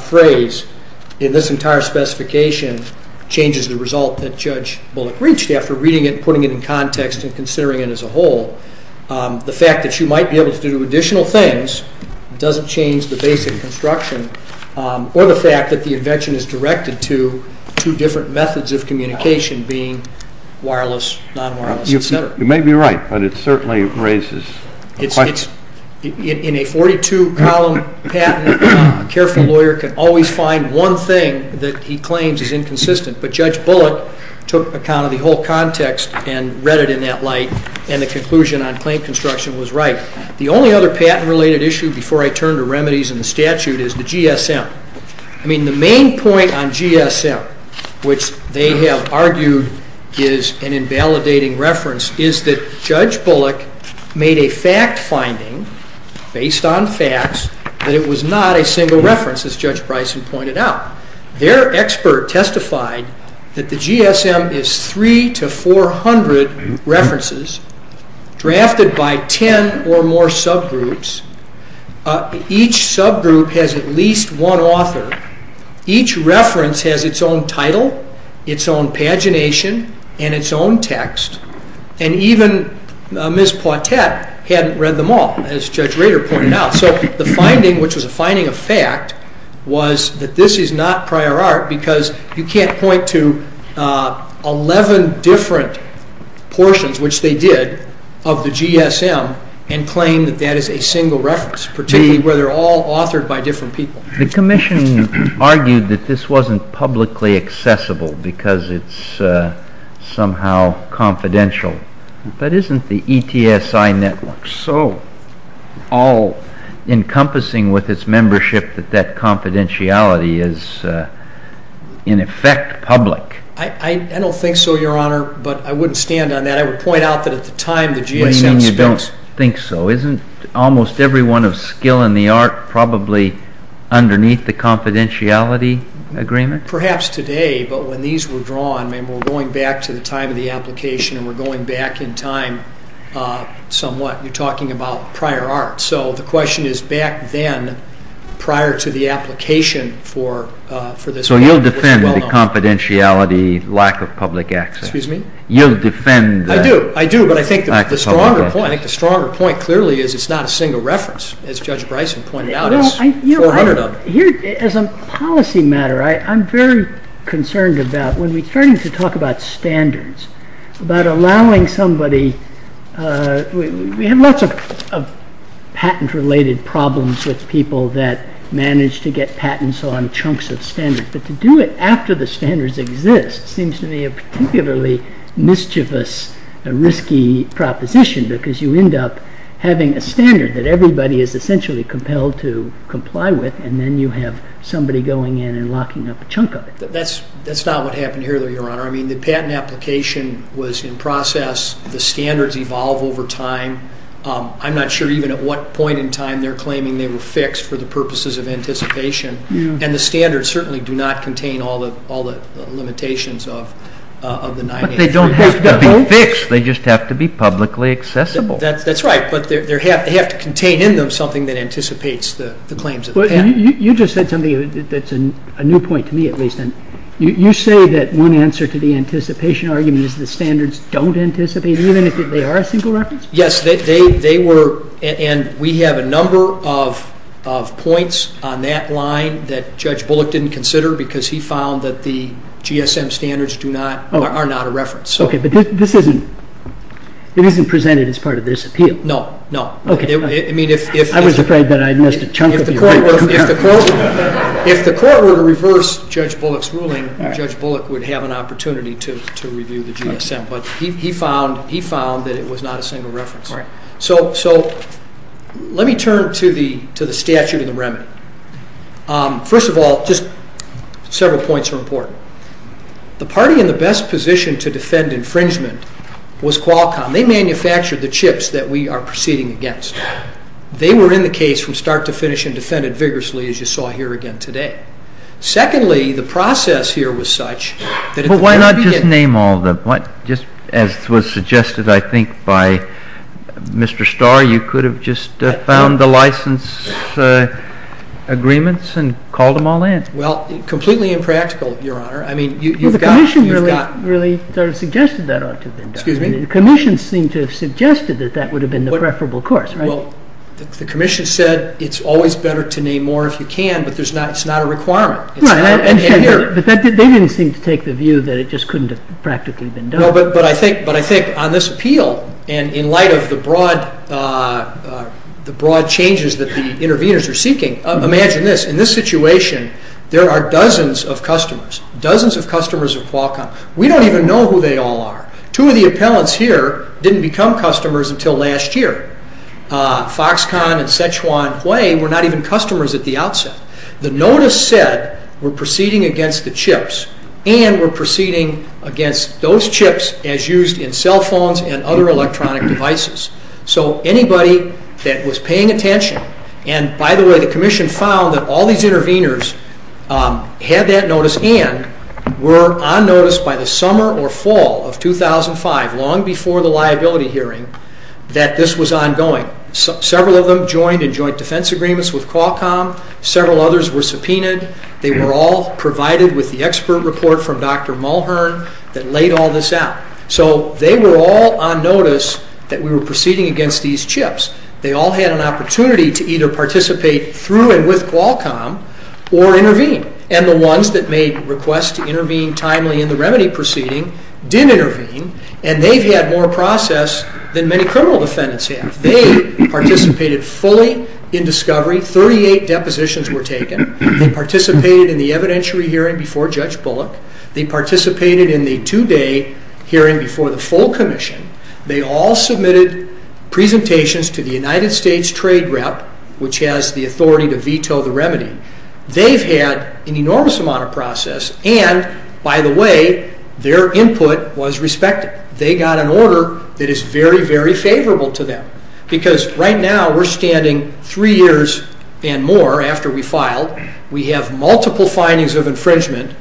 phrase in this entire specification changes the result that Judge Bullock reached after reading it and putting it in context and considering it as a whole. The fact that you might be able to do additional things doesn't change the basic construction, or the fact that the invention is directed to two different methods of communication being wireless, non-wireless, etc. You may be right, but it certainly raises a question. In a 42-column patent, a careful lawyer can always find one thing that he claims is inconsistent, but Judge Bullock took account of the whole context and read it in that light and the conclusion on claim construction was right. The only other patent-related issue before I turn to remedies in the statute is the GSM. The main point on GSM, which they have argued is an invalidating reference, is that Judge based on facts that it was not a single reference, as Judge Bryson pointed out. Their expert testified that the GSM is three to four hundred references drafted by ten or more subgroups. Each subgroup has at least one author. Each reference has its own title, its own pagination, and its own text, and even Ms. Poitet hadn't read them all, as Judge Rader pointed out. So the finding, which was a finding of fact, was that this is not prior art because you can't point to eleven different portions, which they did, of the GSM and claim that that is a single reference, particularly where they're all authored by different people. The Commission argued that this wasn't publicly accessible because it's somehow confidential, but isn't the ETSI network so all-encompassing with its membership that that confidentiality is in effect public? I don't think so, Your Honor, but I wouldn't stand on that. I would point out that at the time the GSM was built. I don't think so. Isn't almost everyone of skill in the art probably underneath the confidentiality agreement? Perhaps today, but when these were drawn, I mean, we're going back to the time of the application and we're going back in time somewhat. You're talking about prior art. So the question is back then, prior to the application for this. So you'll defend the confidentiality, lack of public access? Excuse me? You'll defend that? But I think the stronger point clearly is it's not a single reference, as Judge Bryson pointed out, it's 400 of them. As a policy matter, I'm very concerned about when we're starting to talk about standards, about allowing somebody—we have lots of patent-related problems with people that manage to get patents on chunks of standards, but to do it after the standards exist seems to be a really mischievous, risky proposition because you end up having a standard that everybody is essentially compelled to comply with, and then you have somebody going in and locking up a chunk of it. That's not what happened here, though, Your Honor. I mean, the patent application was in process. The standards evolve over time. I'm not sure even at what point in time they're claiming they were fixed for the purposes of anticipation, and the standards certainly do not contain all the limitations of the 9-8-3-1. But they don't have to be fixed. They just have to be publicly accessible. That's right, but they have to contain in them something that anticipates the claims of the patent. You just said something that's a new point to me, at least. You say that one answer to the anticipation argument is the standards don't anticipate, even if they are a single reference? Yes, they were, and we have a number of points on that line that Judge Bullock didn't consider because he found that the GSM standards are not a reference. Okay, but this isn't, it isn't presented as part of this appeal. No, no. Okay. I mean, if... I was afraid that I'd missed a chunk of your argument. If the court were to reverse Judge Bullock's ruling, Judge Bullock would have an opportunity to review the GSM, but he found that it was not a single reference. So let me turn to the statute and the remedy. First of all, just several points are important. The party in the best position to defend infringement was Qualcomm. They manufactured the chips that we are proceeding against. They were in the case from start to finish and defended vigorously, as you saw here again today. Secondly, the process here was such that... Well, why not just name all of them? Just as was suggested, I think, by Mr. Starr, you could have just found the license agreements and called them all in. Well, completely impractical, Your Honor. I mean, you've got... Well, the commission really sort of suggested that ought to have been done. Excuse me? The commission seemed to have suggested that that would have been the preferable course, right? Well, the commission said it's always better to name more if you can, but it's not a requirement. No, but they didn't seem to take the view that it just couldn't have practically been done. No, but I think on this appeal and in light of the broad changes that the interveners are seeking, imagine this. In this situation, there are dozens of customers, dozens of customers of Qualcomm. We don't even know who they all are. Two of the appellants here didn't become customers until last year. Foxconn and Sichuan Hui were not even customers at the outset. The notice said we're proceeding against the chips and we're proceeding against those chips as used in cell phones and other electronic devices. So anybody that was paying attention and, by the way, the commission found that all these interveners had that notice and were on notice by the summer or fall of 2005, long before the liability hearing, that this was ongoing. Several of them joined in joint defense agreements with Qualcomm. Several others were subpoenaed. They were all provided with the expert report from Dr. Mulhern that laid all this out. So they were all on notice that we were proceeding against these chips. They all had an opportunity to either participate through and with Qualcomm or intervene, and the ones that made requests to intervene timely in the remedy proceeding did intervene, and they've had more process than many criminal defendants have. They participated fully in discovery. Thirty-eight depositions were taken. They participated in the evidentiary hearing before Judge Bullock. They participated in the two-day hearing before the full commission. They all submitted presentations to the United States Trade Rep, which has the authority to veto the remedy. They've had an enormous amount of process and, by the way, their input was respected. They got an order that is very, very favorable to them because right now we're standing three years and more after we filed. We have multiple findings of infringement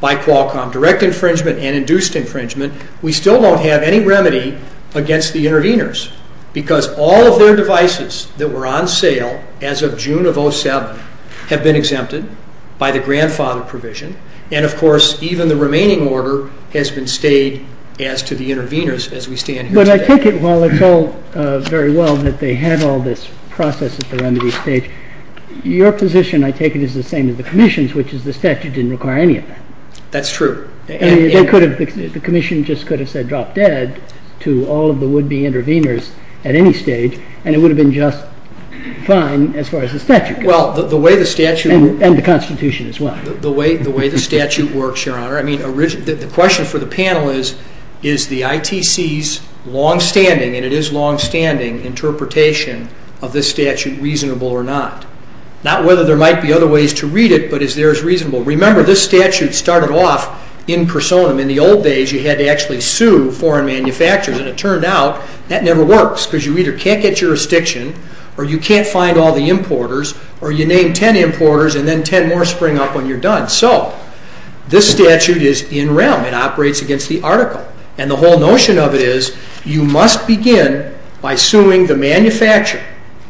by Qualcomm, direct infringement and induced infringement. We still don't have any remedy against the interveners because all of their devices that were on sale as of June of 2007 have been exempted by the grandfather provision, and, of course, even the remaining order has been stayed as to the interveners as we stand here today. But I take it, while it's all very well that they had all this process at the remedy stage, your position, I take it, is the same as the commission's, which is the statute didn't require any of that. That's true. I mean, they could have, the commission just could have said drop dead to all of the would-be interveners at any stage, and it would have been just fine as far as the statute goes. Well, the way the statute... And the Constitution as well. The way the statute works, Your Honor, I mean, the question for the panel is, is the ITC's long-standing, and it is long-standing, interpretation of this statute reasonable or not? Not whether there might be other ways to read it, but is theirs reasonable? Remember, this statute started off in personam. In the old days, you had to actually sue foreign manufacturers, and it turned out that never works because you either can't get jurisdiction or you can't find all the importers or you name ten importers and then ten more spring up when you're done. So this statute is in realm. It operates against the article. And the whole notion of it is you must begin by suing the manufacturer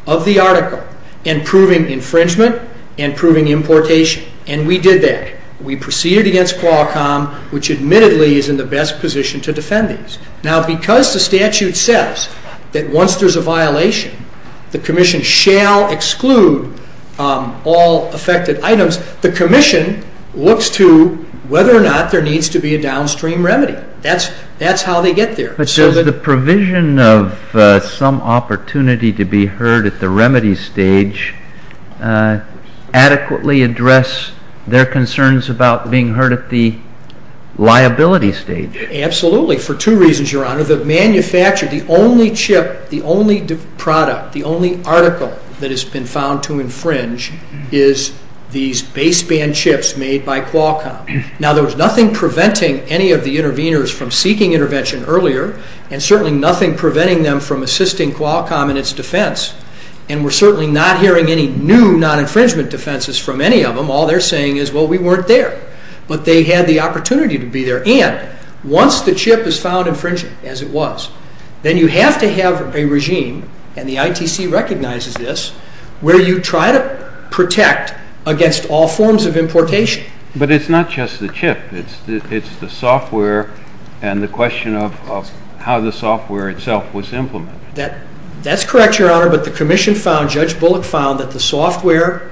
of the article and proving infringement and proving importation. And we did that. We proceeded against Qualcomm, which admittedly is in the best position to defend these. Now, because the statute says that once there's a violation, the commission shall exclude all affected items, the commission looks to whether or not there needs to be a downstream remedy. That's how they get there. But does the provision of some opportunity to be heard at the remedy stage adequately address their concerns about being heard at the liability stage? Absolutely, for two reasons, Your Honor. The manufacturer, the only chip, the only product, the only article that has been found to infringe is these baseband chips made by Qualcomm. Now, there was nothing preventing any of the interveners from seeking intervention earlier and certainly nothing preventing them from assisting Qualcomm in its defense. And we're certainly not hearing any new non-infringement defenses from any of them. All they're saying is, well, we weren't there. But they had the opportunity to be there. And once the chip is found infringing, as it was, then you have to have a regime, and the ITC recognizes this, where you try to protect against all forms of importation. But it's not just the chip. It's the software and the question of how the software itself was implemented. That's correct, Your Honor, but the commission found, Judge Bullock found, that the software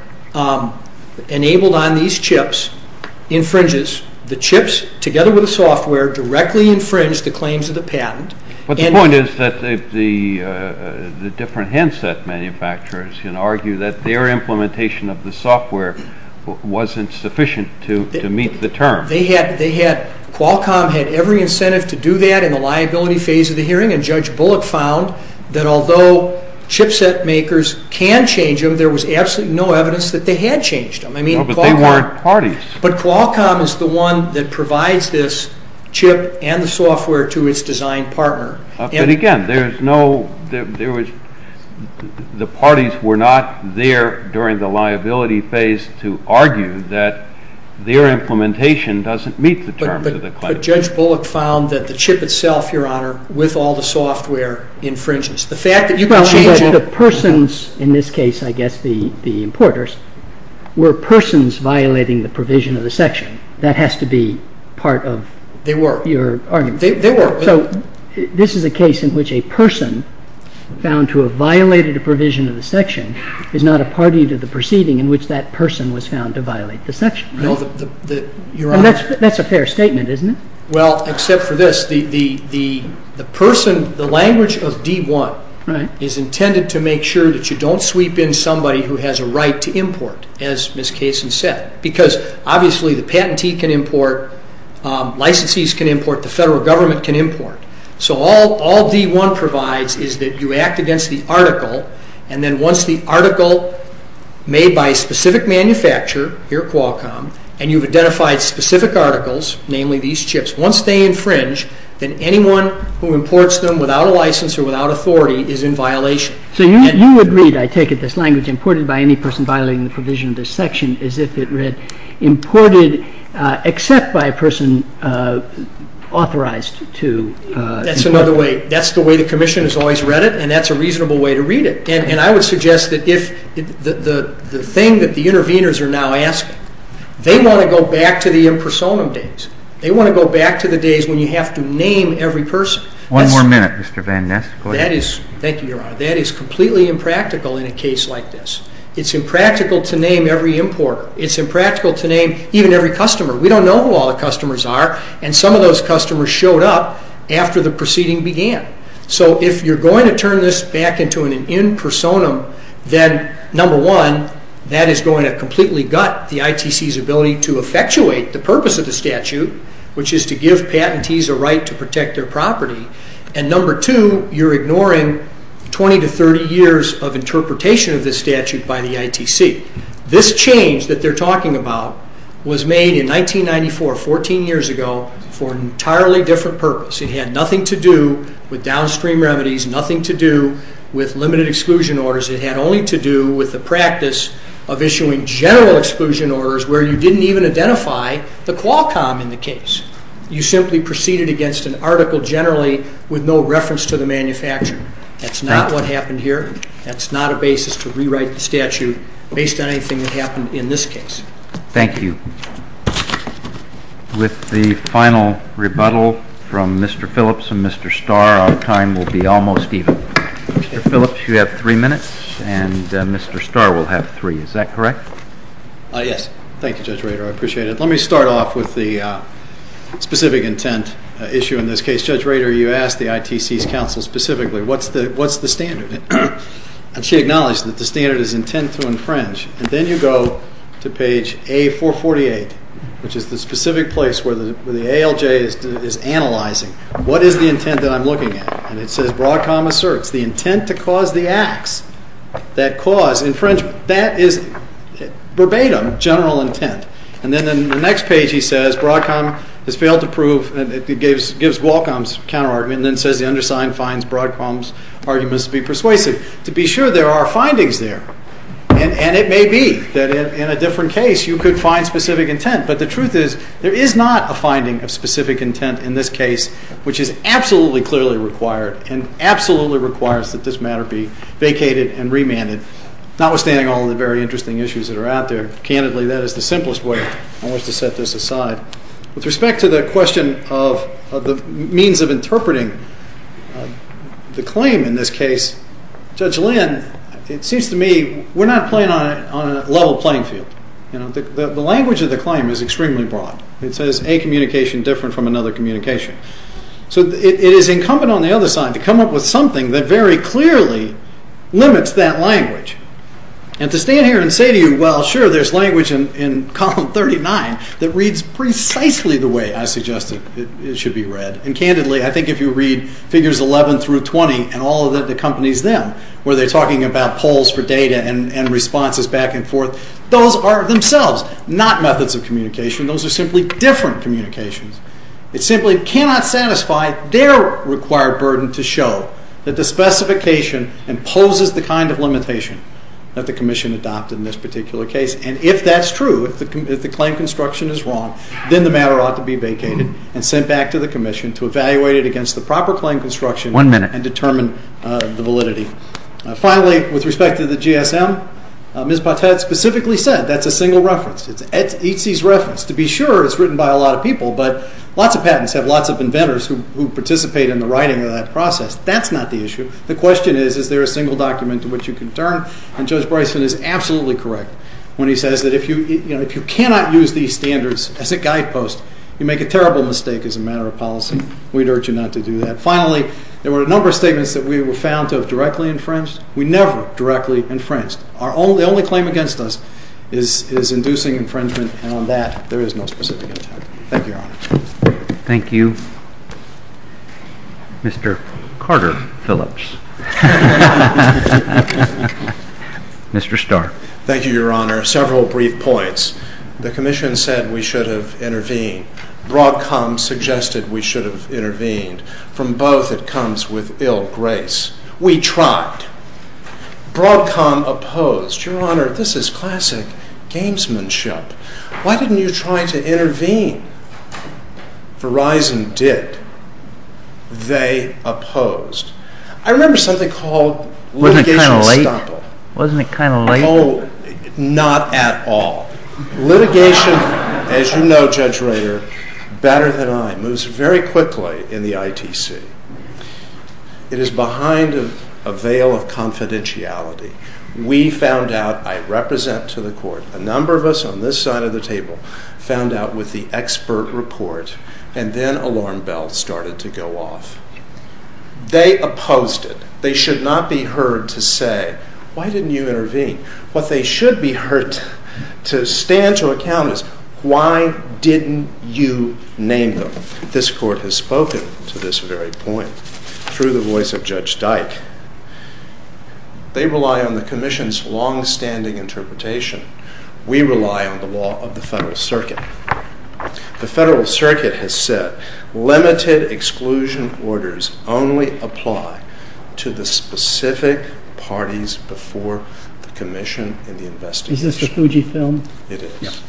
directly infringed the claims of the patent. But the point is that the different handset manufacturers can argue that their implementation of the software wasn't sufficient to meet the term. They had, they had, Qualcomm had every incentive to do that in the liability phase of the hearing, and Judge Bullock found that although chipset makers can change them, there was absolutely no evidence that they had changed them. I mean, Qualcomm. But they weren't parties. But Qualcomm is the one that provides this chip and the software to its design partner. But again, there's no, there was, the parties were not there during the liability phase to argue that their implementation doesn't meet the terms of the claim. But Judge Bullock found that the chip itself, Your Honor, with all the software, infringes. The fact that you can change it. The persons, in this case, I guess, the importers, were persons violating the provision of the section. That has to be part of your argument. They were. They were. So, this is a case in which a person found to have violated a provision of the section is not a party to the proceeding in which that person was found to violate the section, right? No. Your Honor. And that's a fair statement, isn't it? Well, except for this, the person, the language of D1 is intended to make sure that you don't sweep in somebody who has a right to import, as Ms. Kaysen said. Because obviously, the patentee can import, licensees can import, the federal government can import. So, all D1 provides is that you act against the article, and then once the article made by a specific manufacturer, your Qualcomm, and you've identified specific articles, namely these chips. Once they infringe, then anyone who imports them without a license or without authority is in violation. So, you would read, I take it, this language, imported by any person violating the provision of this section, as if it read imported except by a person authorized to import. That's another way. That's the way the Commission has always read it, and that's a reasonable way to read it. And I would suggest that if the thing that the interveners are now asking, they want to go back to the impersonum days. They want to go back to the days when you have to name every person. One more minute, Mr. Van Ness. That is, thank you, Your Honor, that is completely impractical in a case like this. It's impractical to name every importer. It's impractical to name even every customer. We don't know who all the customers are, and some of those customers showed up after the proceeding began. So, if you're going to turn this back into an impersonum, then, number one, that is going to completely gut the ITC's ability to effectuate the purpose of the statute, which is to give patentees a right to protect their property, and number two, you're ignoring 20 to 30 years of interpretation of this statute by the ITC. This change that they're talking about was made in 1994, 14 years ago, for an entirely different purpose. It had nothing to do with downstream remedies, nothing to do with limited exclusion orders. It had only to do with the practice of issuing general exclusion orders where you didn't even identify the Qualcomm in the case. You simply proceeded against an article generally with no reference to the manufacturer. That's not what happened here. That's not a basis to rewrite the statute based on anything that happened in this case. Thank you. With the final rebuttal from Mr. Phillips and Mr. Starr, our time will be almost even. Mr. Phillips, you have three minutes, and Mr. Starr will have three. Is that correct? Yes. Thank you, Judge Rader. I appreciate it. Let me start off with the specific intent issue in this case. Judge Rader, you asked the ITC's counsel specifically, what's the standard? She acknowledged that the standard is intent to infringe, and then you go to page A448, which is the specific place where the ALJ is analyzing, what is the intent that I'm looking at? And it says Broadcom asserts the intent to cause the acts that cause infringement. That is verbatim, general intent. And then in the next page he says Broadcom has failed to prove, and it gives Qualcomm's counterargument and then says the undersigned finds Broadcom's arguments to be persuasive. To be sure, there are findings there, and it may be that in a different case you could find specific intent, but the truth is there is not a finding of specific intent in this case, which is absolutely clearly required and absolutely requires that this matter be vacated and remanded, notwithstanding all of the very interesting issues that are out there. Candidly, that is the simplest way in which to set this aside. With respect to the question of the means of interpreting the claim in this case, Judge Lynn, it seems to me we're not playing on a level playing field. The language of the claim is extremely broad. It says a communication different from another communication. So it is incumbent on the other side to come up with something that very clearly limits that language. And to stand here and say to you, well, sure, there's language in column 39 that reads precisely the way I suggested it should be read. And candidly, I think if you read figures 11 through 20 and all that accompanies them, where they're talking about polls for data and responses back and forth, those are themselves not methods of communication. Those are simply different communications. It simply cannot satisfy their required burden to show that the specification imposes the kind of limitation that the Commission adopted in this particular case. And if that's true, if the claim construction is wrong, then the matter ought to be vacated and sent back to the Commission to evaluate it against the proper claim construction and determine the validity. Finally, with respect to the GSM, Ms. Pottet specifically said that's a single reference. It's ETSI's reference. To be sure, it's written by a lot of people, but lots of patents have lots of inventors who participate in the writing of that process. That's not the issue. The question is, is there a single document to which you can turn? And Judge Bryson is absolutely correct when he says that if you cannot use these standards as a guidepost, you make a terrible mistake as a matter of policy. We'd urge you not to do that. Finally, there were a number of statements that we were found to have directly infringed. We never directly infringed. The only claim against us is inducing infringement, and on that, there is no specific attachment. Thank you, Your Honor. Thank you, Mr. Carter Phillips. Mr. Starr. Thank you, Your Honor. Several brief points. The Commission said we should have intervened. Broadcom suggested we should have intervened. From both, it comes with ill grace. We tried. Broadcom opposed. Your Honor, this is classic gamesmanship. Why didn't you try to intervene? Verizon did. They opposed. I remember something called litigation stoppable. Wasn't it kind of late? Oh, not at all. Litigation, as you know, Judge Rader, better than I, moves very quickly in the ITC. It is behind a veil of confidentiality. We found out, I represent to the Court, a number of us on this side of the table found out with the expert report, and then alarm bells started to go off. They opposed it. They should not be heard to say, why didn't you intervene? What they should be heard to stand to account is, why didn't you name them? This Court has spoken to this very point through the voice of Judge Dyke. They rely on the Commission's longstanding interpretation. We rely on the law of the Federal Circuit. The Federal Circuit has said limited exclusion orders only apply to the specific parties before the Commission in the investigation. Is this the Fujifilm? It is.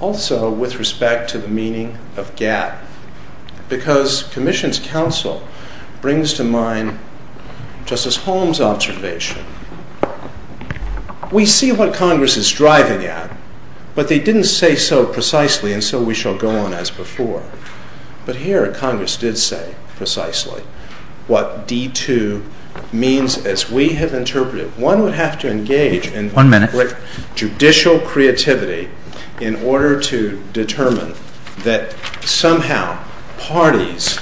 Also, with respect to the meaning of gap, because Commission's counsel brings to mind Justice Holmes' observation. We see what Congress is striving at, but they didn't say so precisely, and so we shall go on as before. But here, Congress did say precisely what D2 means as we have interpreted it. One would have to engage in judicial creativity in order to determine that somehow parties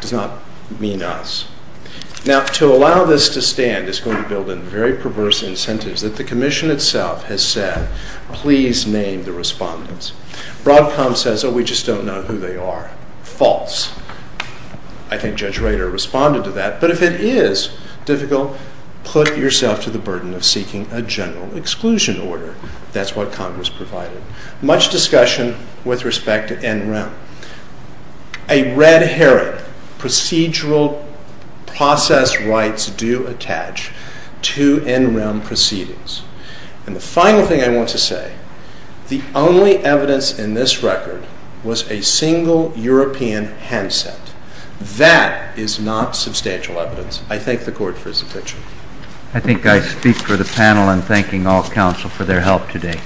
does not mean us. Now, to allow this to stand is going to build in very perverse incentives that the Commission itself has said, please name the respondents. Broadcom says, oh, we just don't know who they are. False. I think Judge Rader responded to that. But if it is difficult, put yourself to the burden of seeking a general exclusion order. That's what Congress provided. Much discussion with respect to NREM. A red herring. Procedural process rights do attach to NREM proceedings. And the final thing I want to say, the only evidence in this record was a single European handset. That is not substantial evidence. I thank the Court for its objection. I think I speak for the panel in thanking all counsel for their help today. All rise.